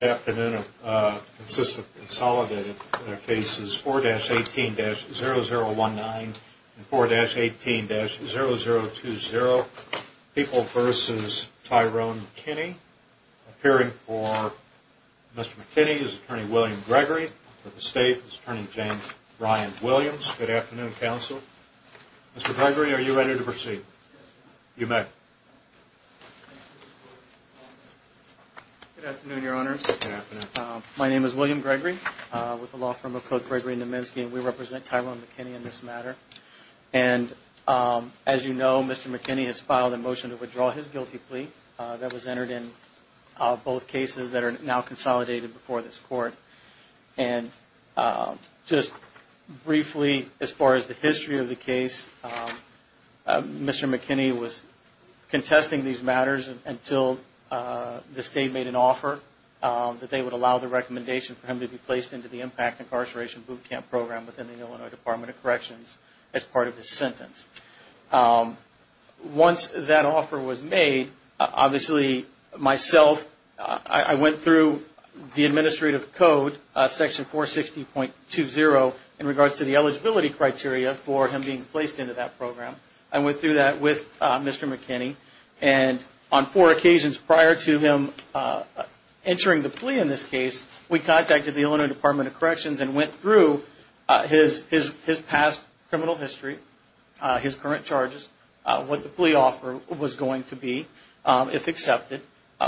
afternoon of uh consistent consolidated cases 4-18-0019 and 4-18-0020 people versus tyrone mckinney appearing for mr mckinney is attorney william gregory for the state is attorney james brian williams good afternoon counsel mr gregory are you ready to proceed you may be seated good afternoon your honors my name is william gregory with the law firm of code gregory naminsky and we represent tyrone mckinney in this matter and um as you know mr mckinney has filed a motion to withdraw his guilty plea that was entered in both cases that are now consolidated before this court and just briefly as far as the history of the case um mr mckinney was contesting these matters until uh the state made an offer um that they would allow the recommendation for him to be placed into the impact incarceration boot camp program within the illinois department of corrections as part of his sentence um once that offer was made obviously myself i went through the administrative code uh section 460.20 in regards to the program i went through that with uh mr mckinney and on four occasions prior to him uh entering the plea in this case we contacted the illinois department of corrections and went through his his past criminal history uh his current charges uh what the plea offer was going to be if accepted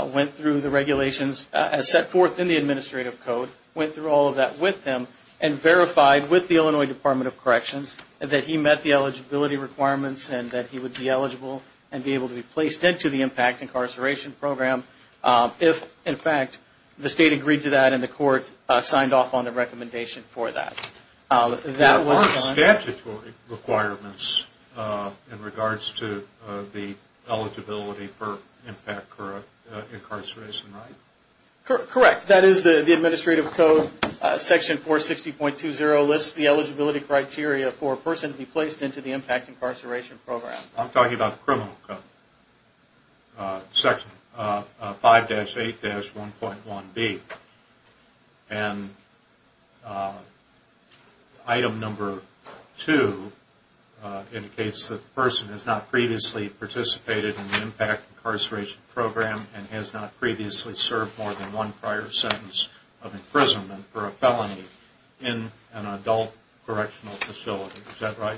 went through the regulations as set forth in the administrative code went through all of that with him and verified with the illinois department of corrections that he met the eligibility requirements and that he would be eligible and be able to be placed into the impact incarceration program if in fact the state agreed to that and the court signed off on the recommendation for that that was statutory requirements in regards to the eligibility for impact current incarceration right correct that is the the administrative code section 460.20 lists the eligibility criteria for a person to be placed into the impact incarceration program i'm talking about the criminal code uh section uh 5-8-1.1b and item number two indicates the person has not previously participated in the impact incarceration program and has not previously served more than one prior sentence of imprisonment for a felony in an adult correctional facility is that right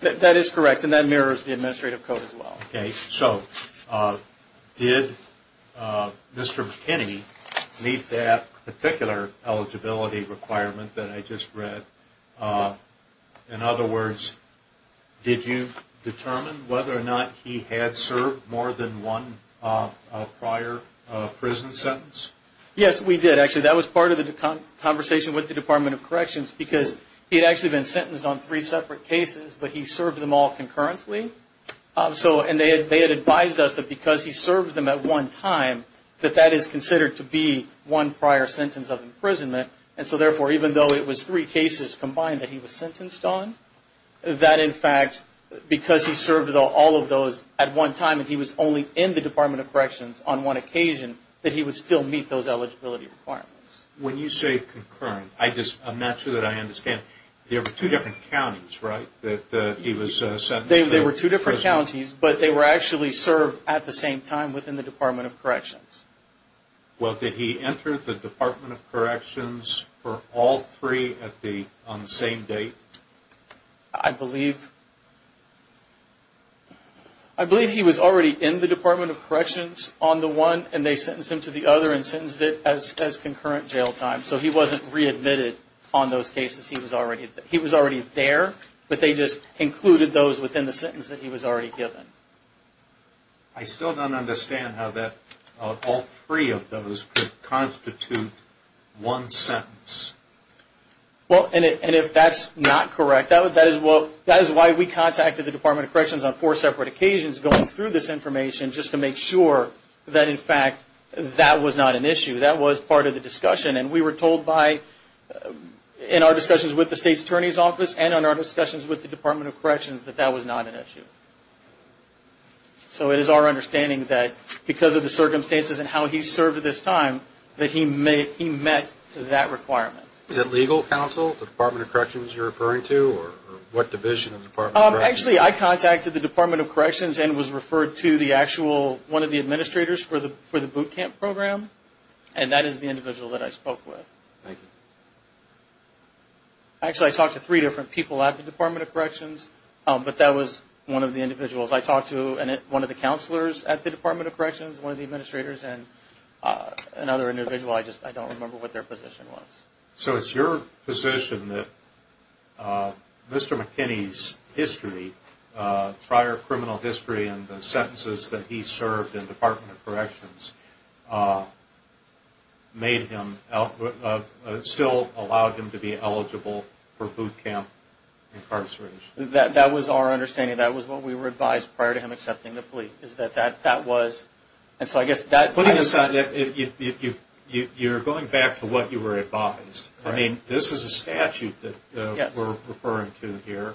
that is correct and that mirrors the administrative code as well okay so uh did uh mr pinney meet that particular eligibility requirement that i just read uh in other words did you determine whether or not he had served more than one uh prior prison sentence yes we did actually that was part of the conversation with the department of corrections because he had actually been sentenced on three separate cases but he served them all concurrently um so and they had they had advised us that because he served them at one time that that is considered to be one prior sentence of imprisonment and so therefore even though it was three cases combined that he was sentenced on that in fact because he served all of those at one time and he was only in the department of corrections on one occasion that he would still meet those eligibility requirements when you say concurrent i just i'm not sure that i understand there were two different counties right that uh he was uh they were two different counties but they were actually served at the same time within the department of corrections well did he enter the department of corrections for all three at the on the same date i believe he was already in the department of corrections on the one and they sentenced him to the other and sentenced it as as concurrent jail time so he wasn't readmitted on those cases he was already he was already there but they just included those within the sentence that he was already given i still don't understand how that all three of those could constitute one sentence well and if that's not correct that would that is what that is why we contacted the department of corrections on four separate occasions going through this information just to make sure that in fact that was not an issue that was part of the discussion and we were told by in our discussions with the state's attorney's office and on our discussions with the department of corrections that that was not an issue so it is our understanding that because of the circumstances and how he served this time that he may he met that requirement is it legal counsel the department of corrections you're referring to or what division of the department actually i contacted the department of corrections and was referred to the actual one of the administrators for the for the boot camp program and that is the individual that i spoke with thank you actually i talked to three different people at the department of corrections um but that was one of the individuals i talked to and one of the counselors at the department of corrections one of the administrators and uh another individual i just i don't remember what their position was so it's your position that uh mr mckinney's history uh prior criminal history and the sentences that he served in department of corrections uh made him out still allowed him to be eligible for boot camp incarceration that that was our understanding that was what we were advised prior to him accepting the plea is that that that was and so i guess that putting aside that if you you you're going back to what you were advised i mean this is a statute that we're referring to here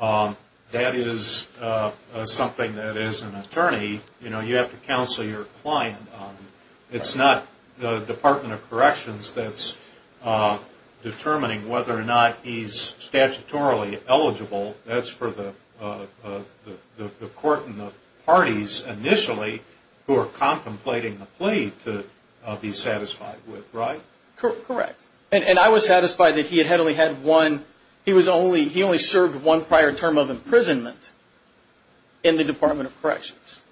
um that is uh something that is an attorney you know you have to counsel your client it's not the department of corrections that's uh determining whether or not he's statutorily eligible that's for the uh the the court and the parties initially who are contemplating the plea to be satisfied with right correct and i was satisfied that he had only had one he was only he only served one prior term of imprisonment in the department of corrections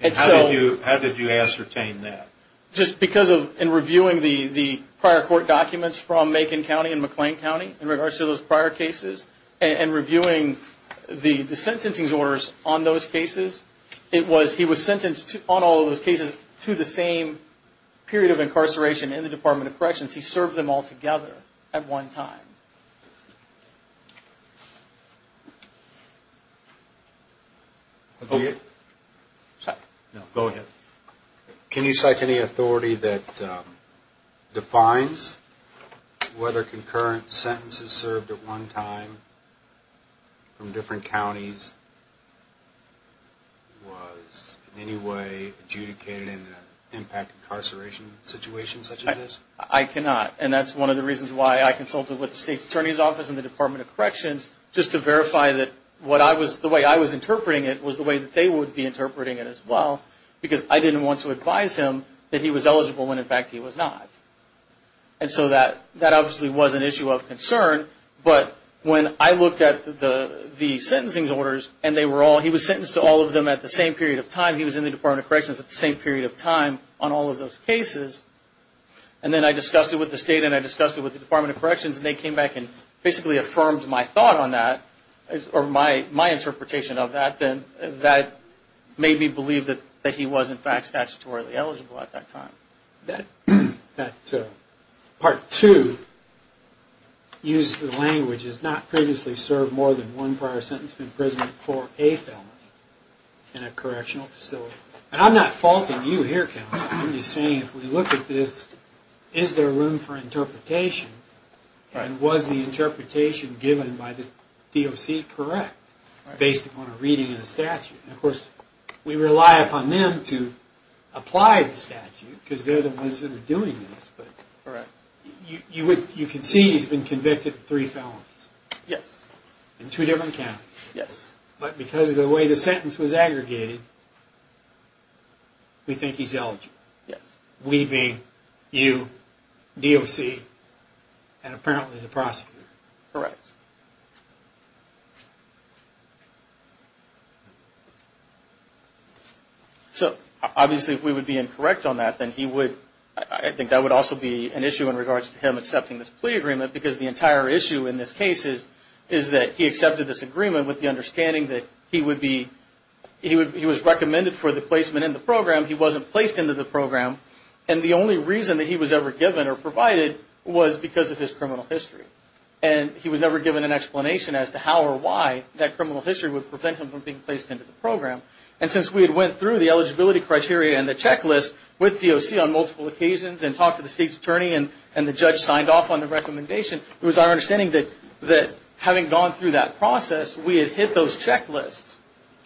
and so how did you ascertain that just because of in reviewing the the prior court documents from macon county and mcclain county in regards to those prior cases and reviewing the the sentencing orders on those cases it was he was sentenced to on all of those cases to the same period of incarceration in the department of corrections he served them all together at one time okay sorry no go ahead can you cite any authority that um defines whether concurrent sentences served at one time from different counties was in any way adjudicated in an impact incarceration situation such as this i cannot and that's one of the reasons why i consulted with the state's attorney's office in the department of corrections just to verify that what i was the way i was interpreting it was the way that they would be interpreting it as well because i didn't want to advise him that he was eligible when in fact he was not and so that that obviously was an issue of concern but when i looked at the the sentencing orders and they were all he was sentenced to all of them at the same period of time he was in the department of corrections at the same period of time on all of those cases and then i discussed it with the state and i discussed it with the department of corrections and they came back and basically affirmed my thought on that or my my interpretation of that that made me believe that that he was in fact statutorily eligible at that time that that uh part two used the language has not previously served more than one prior sentence of imprisonment for a family in a correctional facility and i'm not faulting you here counsel i'm just saying if we look at this is there room for interpretation and was the interpretation given by the doc correct based upon a reading of the statute of course we rely upon them to apply the statute because they're the ones that are doing this but all right you would you can see he's been convicted of three felons yes in two different counties yes but because of the way the sentence was aggregated we think he's eligible yes we being you doc and apparently the prosecutor correct so obviously if we would be incorrect on that then he would i think that would also be an issue in regards to him accepting this plea agreement because the entire issue in this case is is that he accepted this agreement with the understanding that he would be he would he was recommended for the placement in the program he wasn't placed into the program and the only reason that he was ever given or provided was because of his criminal history and he was never given an that criminal history would prevent him from being placed into the program and since we had went through the eligibility criteria and the checklist with doc on multiple occasions and talked to the state's attorney and and the judge signed off on the recommendation it was our understanding that that having gone through that process we had hit those checklists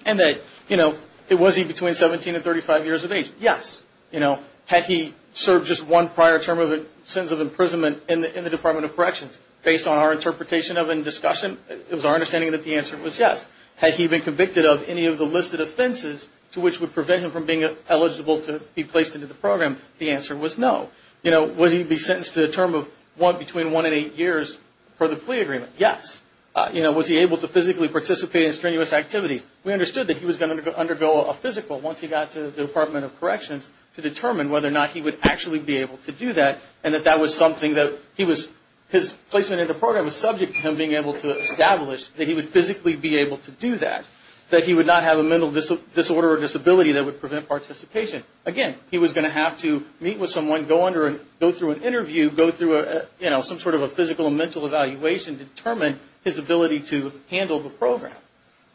and that you know it was he between 17 and 35 years of age yes you know had he served just one prior term of a sentence of imprisonment in the in the department of corrections based on our interpretation of in discussion it was our understanding that the answer was yes had he been convicted of any of the listed offenses to which would prevent him from being eligible to be placed into the program the answer was no you know would he be sentenced to a term of one between one and eight years for the plea agreement yes uh you know was he able to physically participate in strenuous activities we understood that he was going to undergo a physical once he got to the department of corrections to determine whether or not he would actually be able to do that and that that was something that he was his placement in the program was subject to him being able to establish that he would physically be able to do that that he would not have a mental disorder or disability that would prevent participation again he was going to have to meet with someone go under and go through an interview go through a you know some sort of a physical and mental evaluation determine his ability to handle the program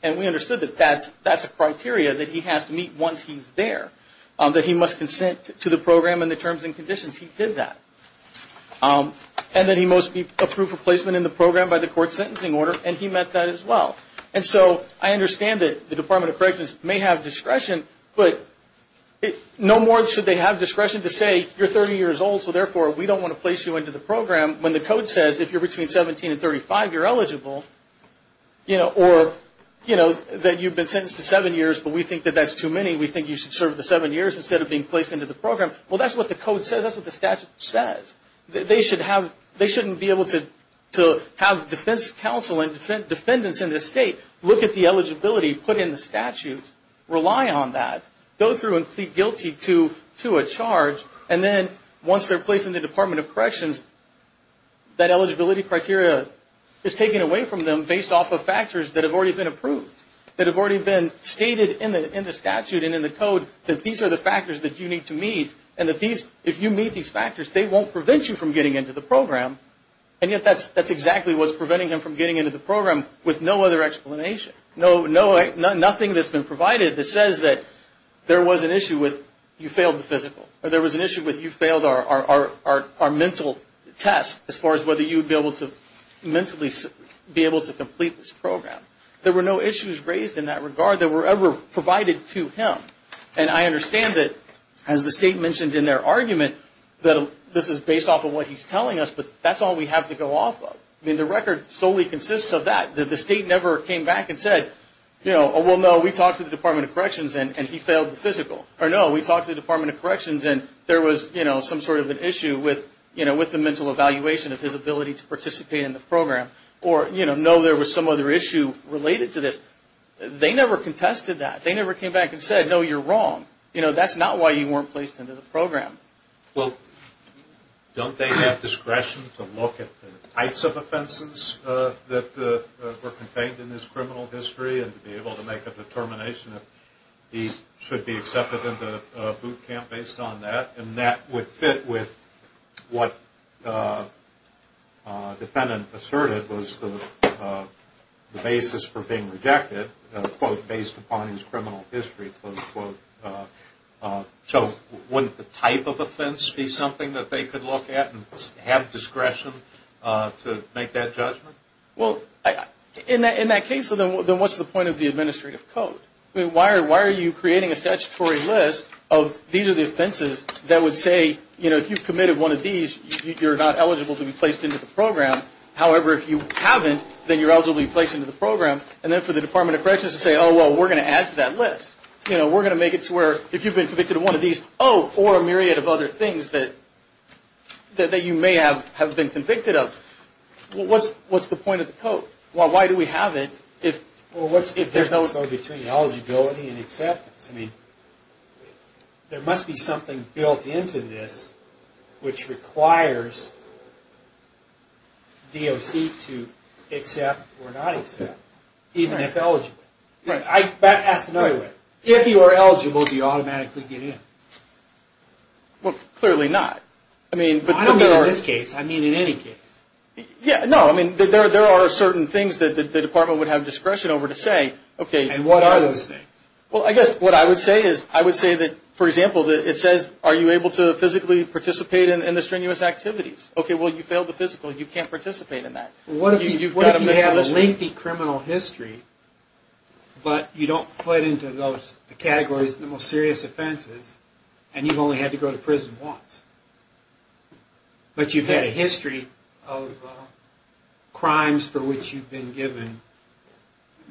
and we understood that that's that's a criteria that he has to meet once he's there that he must consent to the program and the terms and conditions he did that um and then he must be approved for placement in the program by the court sentencing order and he met that as well and so i understand that the department of corrections may have discretion but no more should they have discretion to say you're 30 years old so therefore we don't want to place you into the program when the code says if you're between 17 and 35 you're eligible you know or you know that you've been sentenced to seven years but we think that that's too many we think you should serve the seven years instead of being placed into the program well that's what the code says that's what the statute says they should have they shouldn't be able to to have defense counsel and defendants in this state look at the eligibility put in the statute rely on that go through and plead guilty to to a charge and then once they're placed in the department of corrections that eligibility criteria is taken away from them based off of factors that have already been approved that have already been stated in the in the statute and in the code that these are the factors that you need to meet and that these if you meet these factors they won't prevent you from getting into the program and yet that's that's exactly what's preventing him from getting into the program with no other explanation no no nothing that's been provided that says that there was an issue with you failed the physical or there was an issue with you failed our our our our mental test as far as whether you would be able to mentally be able to complete this and i understand that as the state mentioned in their argument that this is based off of what he's telling us but that's all we have to go off of i mean the record solely consists of that that the state never came back and said you know oh well no we talked to the department of corrections and he failed the physical or no we talked to the department of corrections and there was you know some sort of an issue with you know with the mental evaluation of his ability to participate in the program or you know no there was some other issue related to this they never contested that they never came back and said no you're wrong you know that's not why you weren't placed into the program well don't they have discretion to look at the types of offenses uh that were contained in his criminal history and to be able to make a determination if he should be accepted into boot camp based on that and that would fit with what uh uh defendant asserted was the uh the basis for being rejected quote based upon his criminal history close quote uh uh so wouldn't the type of offense be something that they could look at and have discretion uh to make that judgment well in that in that case then what's the point of the administrative code i mean why are why are you creating a statutory list of these are the offenses that would say you know if you've committed one of these you're not eligible to be placed into the however if you haven't then you're eligible to be placed into the program and then for the department of corrections to say oh well we're going to add to that list you know we're going to make it to where if you've been convicted of one of these oh or a myriad of other things that that you may have have been convicted of what's what's the point of the code well why do we have it if well what's if there's no between eligibility and acceptance i mean there must be something built into this which requires doc to accept or not accept even if eligible right i asked another way if you are eligible do you automatically get in well clearly not i mean but i don't mean in this case i mean in any case yeah no i mean there are certain things that the department would have discretion over to say okay and what are those things well i guess what i would say is i would say that for example that it says are you able to physically participate in the strenuous activities okay well you failed the physical you can't participate in that what if you've got a lengthy criminal history but you don't put into those categories the most serious offenses and you've only had to go to prison once but you've had a history of crimes for which you've been given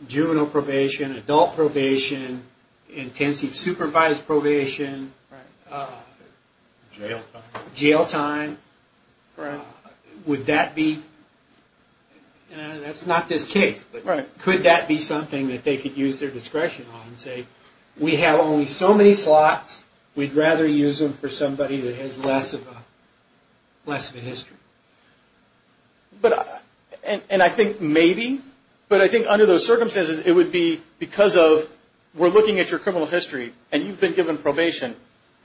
juvenile probation adult probation intensive supervised probation jail time would that be that's not this case but right could that be something that they could use their discretion on and say we have only so many slots we'd rather use them for somebody that has less of a less of a history but and and i think maybe but i think under those circumstances it would be because of we're looking at your criminal history and you've been given probation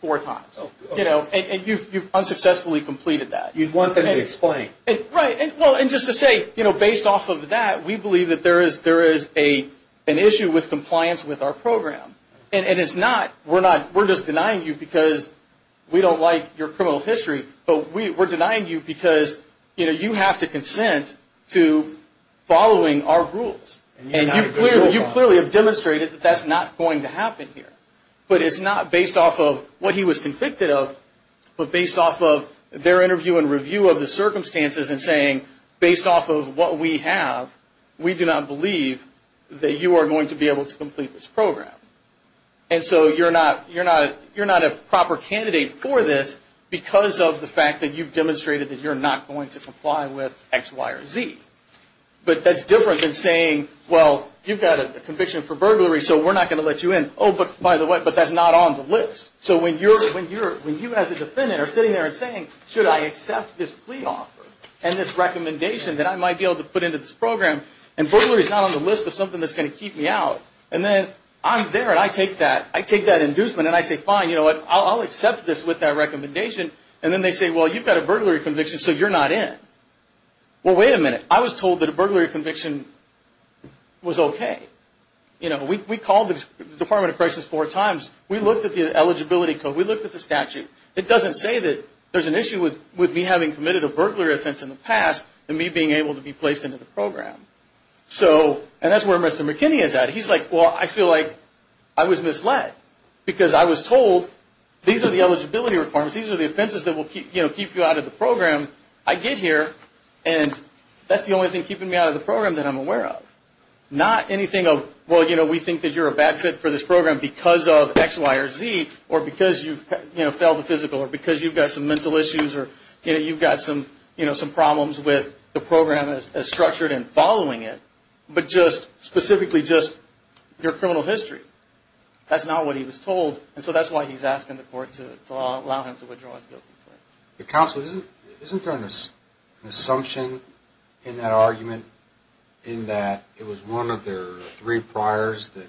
four times you know and you've you've unsuccessfully completed that you'd want them to explain right and well and just to say you know based off of that we believe that there is there is a an issue with compliance with our program and it's not we're not we're just denying you because we don't like your criminal history but we we're denying you because you know you have to consent to following our rules and you clearly you clearly have demonstrated that that's not going to happen here but it's not based off of what he was convicted of but based off of their interview and review of the circumstances and saying based off of what we have we do not believe that you are going to be able to complete this program and so you're not you're not you're not a proper candidate for this because of the fact that you've demonstrated that you're not going to comply with x y or z but that's different than saying well you've got a conviction for burglary so we're not going to let you in oh but by the way but that's not on the list so when you're when you're when you as a defendant are sitting there and saying should i accept this plea offer and this recommendation that i might be able to put into this program and burglary is not on the list of something that's going to keep me out and then i'm there and i take that i take that inducement and i say fine you know what i'll accept this with that recommendation and then they say well you've got a burglary conviction so you're not in well wait a minute i was told that a burglary conviction was okay you know we called the department of crisis four times we looked at the eligibility code we looked at the statute it doesn't say that there's an issue with with me having committed a burglary offense in the past and me being able to be placed into the program so and that's where mr mckinney is at he's like well i feel like i was misled because i was told these are the eligibility requirements these are the offenses that will keep you know keep you out of the program i get here and that's the only thing keeping me out of the program that i'm aware of not anything of well you know we think that you're a bad fit for this program because of x y or z or because you've you know failed the physical or because you've got some mental issues or you know you've got some you know some problems with the program as structured and following it but just specifically just your criminal history that's not what he was told and so that's why he's asking the court to allow him to withdraw his guilty plea the council isn't isn't there an assumption in that argument in that it was one of their three priors that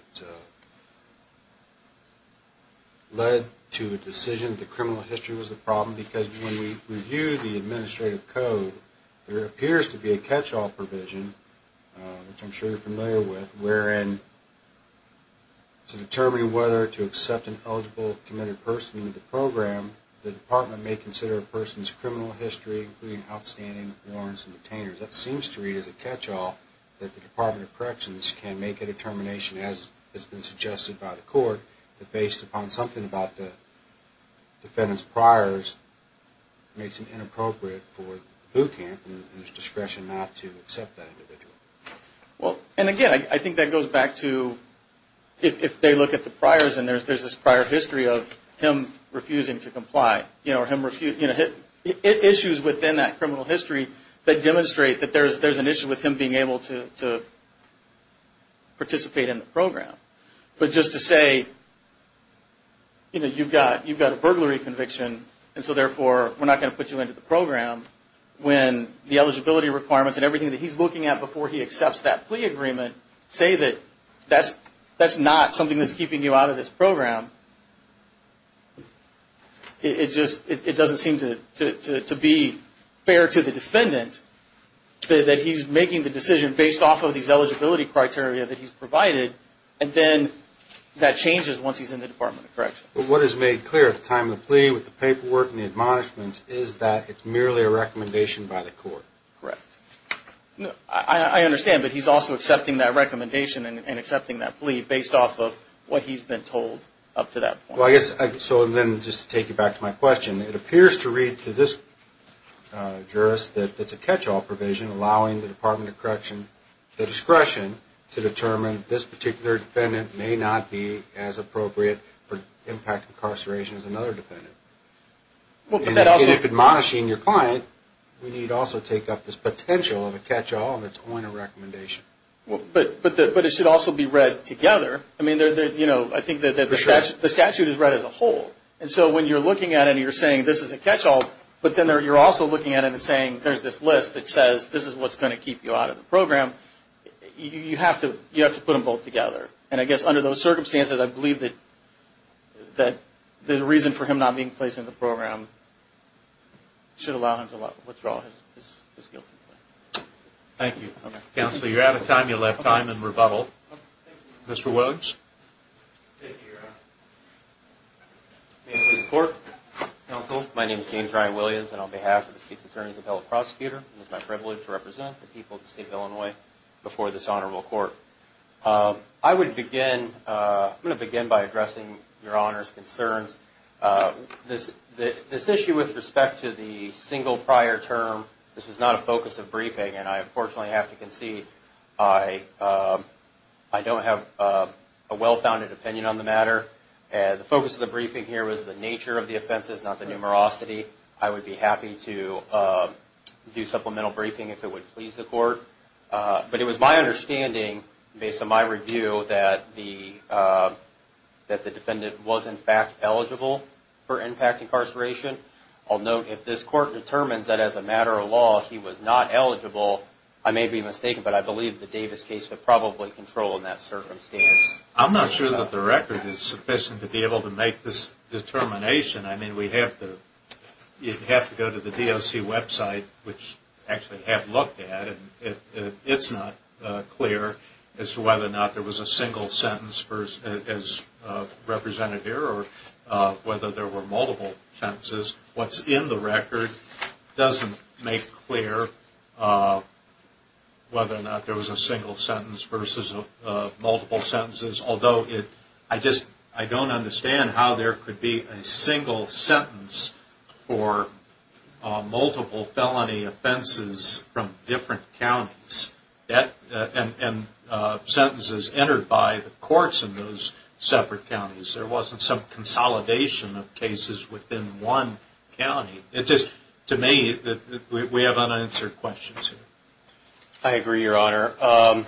led to a decision the criminal history was the problem because when we review the administrative code there appears to be a catch-all provision which i'm sure you're familiar with wherein to determine whether to accept an eligible committed person into the program the department may consider a person's criminal history including outstanding warrants and detainers that seems to read as a catch-all that the department of corrections can make a determination as has been suggested by the court that based upon something about the defendant's priors makes it inappropriate for the boot camp and his discretion not to accept that individual well and again i think that goes back to if they look at the priors and there's there's this prior history of him refusing to comply you know him refuse you know it issues within that criminal history that demonstrate that there's there's an issue with him being able to to participate in the program but just to say you know you've got you've got a burglary conviction and so therefore we're not going to put you into the program when the eligibility requirements and everything that he's looking at before he accepts that plea agreement say that that's that's not something that's keeping you out of this program it just it doesn't seem to to to be fair to the defendant that he's making the decision based off of these eligibility criteria that he's provided and then that changes once he's in the department of correction but what is made clear at the time of the plea with the paperwork and the admonishments is that it's merely a recommendation by the court correct i understand but he's also accepting that recommendation and accepting that plea based off of what he's been told up to that point well i guess so then just to take you back to my question it appears to read to this jurist that it's a catch-all provision allowing the department of correction the discretion to determine this particular defendant may not be as appropriate for impact incarceration as another dependent well but that also if admonishing your client we need also take up this potential of a catch-all that's on a recommendation well but but the but it should also be read together i mean they're they're you know i think that the statute the statute is read as a whole and so when you're looking at it you're saying this is a catch-all but then you're also looking at it and saying there's this list that says this is what's going to keep you out of the program you have to you have to put them both together and i guess under those circumstances i believe that that the reason for him not being placed in the program should allow him to withdraw his guilt thank you counselor you're out of time you left i'm in rebuttal mr williams thank you your honor my name is james ryan williams and on behalf of the state's attorney's appellate prosecutor it's my privilege to represent the people of the state of illinois before this honorable court um i would begin uh i'm going to begin by addressing your honor's concerns uh this the this issue with respect to the single prior term this was not a focus of briefing and i unfortunately have to concede i um i don't have a well-founded opinion on the matter and the focus of the briefing here was the nature of the offenses not the numerosity i would be happy to uh do supplemental briefing if it would please the court uh but it was my understanding based on my review that the uh that the defendant was in fact eligible for impact incarceration i'll note if this court determines that as a matter of law he was not eligible i may be mistaken but i believe the davis case would probably control in that circumstance i'm not sure that the record is sufficient to be able to make this determination i mean we have to you have to go to the doc website which actually have looked at and it's not uh clear as to whether or not there was a single sentence first as uh represented here or uh whether there were multiple sentences what's in the record doesn't make clear uh whether or not there was a single sentence versus uh multiple sentences although it i just i don't understand how there could be a single sentence for multiple felony offenses from different counties that and uh sentences entered by the courts in those separate counties there wasn't some consolidation of cases within one county it just to me that we have unanswered questions here i agree your honor um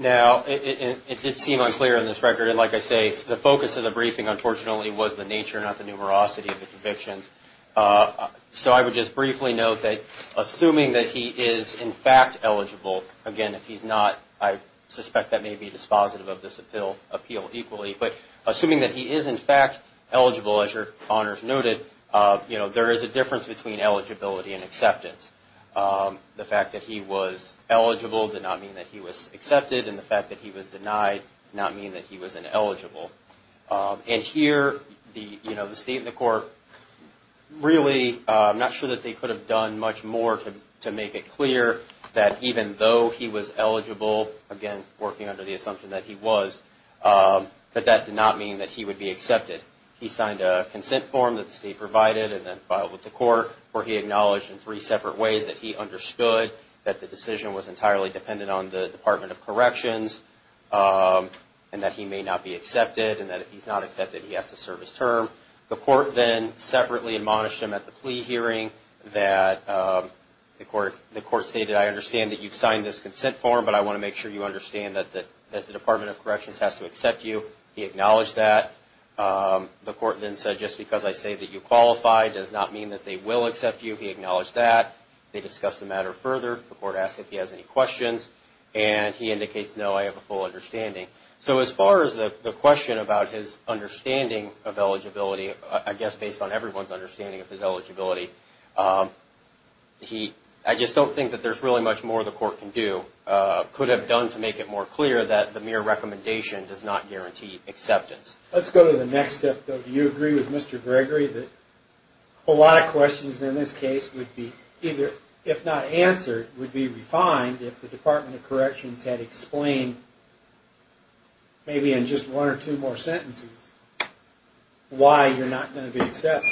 now it did seem unclear on this record and like i say the focus of the briefing unfortunately was the nature not the numerosity of the convictions uh so i would just briefly note that assuming that he is in fact eligible again if he's not i suspect that may be dispositive of this appeal appeal equally but assuming that he is in fact eligible as your honors noted uh you know there is a difference between eligibility and acceptance um the fact that he was eligible did not mean that he was accepted and the fact that he was denied not mean that he was ineligible um and here the you know the state and the court really i'm not sure that they could have done much more to to make it clear that even though he was eligible again working under the assumption that he was um but that did not mean that he would be accepted he signed a consent form that the state provided and then filed with the court where he acknowledged in three separate ways that he understood that the decision was entirely dependent on the and that he may not be accepted and that if he's not accepted he has to serve his term the court then separately admonished him at the plea hearing that um the court the court stated i understand that you've signed this consent form but i want to make sure you understand that that that the department of corrections has to accept you he acknowledged that um the court then said just because i say that you qualify does not mean that they will accept you he acknowledged that they discussed the matter further the court asked if he has any questions and he indicates no i have full understanding so as far as the the question about his understanding of eligibility i guess based on everyone's understanding of his eligibility um he i just don't think that there's really much more the court can do uh could have done to make it more clear that the mere recommendation does not guarantee acceptance let's go to the next step though do you agree with mr gregory that a lot of questions in this case would be either if not answered would be refined if the department of corrections had explained maybe in just one or two more sentences why you're not going to be accepted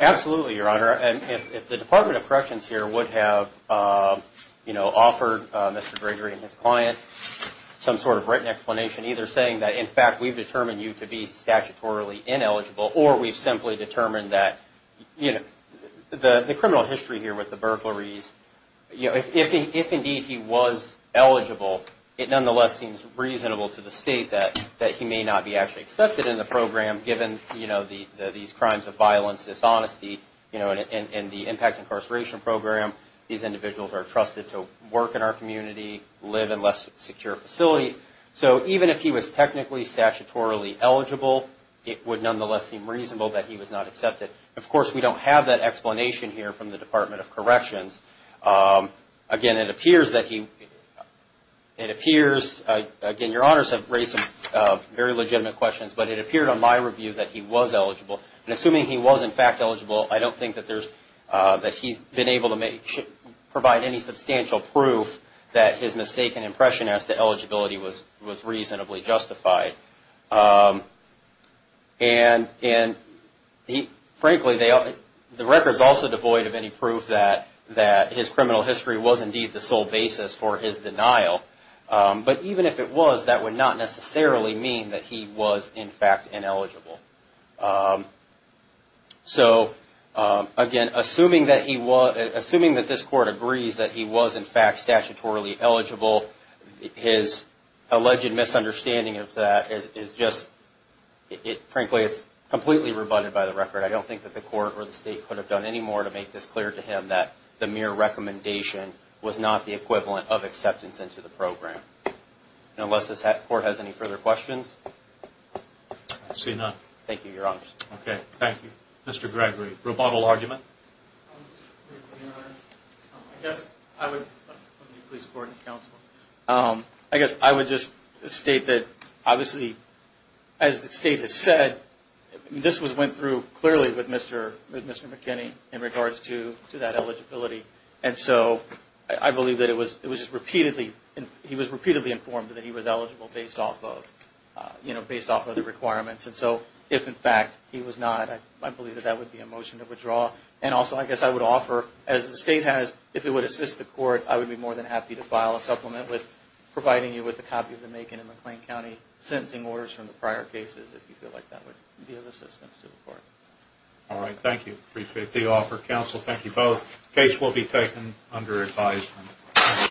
absolutely your honor and if the department of corrections here would have uh you know offered uh mr gregory and his client some sort of written explanation either saying that in fact we've determined you to be statutorily ineligible or we've simply determined that you know the the criminal history here with the burglaries you know if indeed he was eligible it nonetheless seems reasonable to the state that that he may not be actually accepted in the program given you know the these crimes of violence dishonesty you know and the impact incarceration program these individuals are trusted to work in our community live in less secure facilities so even if he was technically statutorily eligible it would nonetheless seem of course we don't have that explanation here from the department of corrections again it appears that he it appears again your honors have raised some very legitimate questions but it appeared on my review that he was eligible and assuming he was in fact eligible i don't think that there's uh that he's been able to make provide any substantial proof that his mistaken impression as to eligibility was was reasonably justified um and and he frankly they are the records also devoid of any proof that that his criminal history was indeed the sole basis for his denial but even if it was that would not necessarily mean that he was in fact ineligible so again assuming that he was assuming that this court agrees that he was in fact statutorily eligible his alleged misunderstanding of that is is just it frankly it's completely rebutted by the record i don't think that the court or the state could have done any more to make this clear to him that the mere recommendation was not the equivalent of acceptance into the program and unless this court has any further questions i see none thank you your honors okay thank you mr gregory rebuttal argument i guess i would please support the council um i guess i would just state that obviously as the state has said this was went through clearly with mr with mr mckinney in regards to to that eligibility and so i believe that it was it was just repeatedly and he was repeatedly informed that he was eligible based off of uh you know based off of the requirements and so if in fact he was not i believe that that would be a motion to withdraw and also i guess i would offer as the state has if it would assist the court i would be more than happy to file a supplement with providing you with a copy of the macon and mcclain county sentencing orders from the prior cases if you feel like that would be of assistance to the court all right thank you appreciate the offer counsel thank you both case will be taken under advisement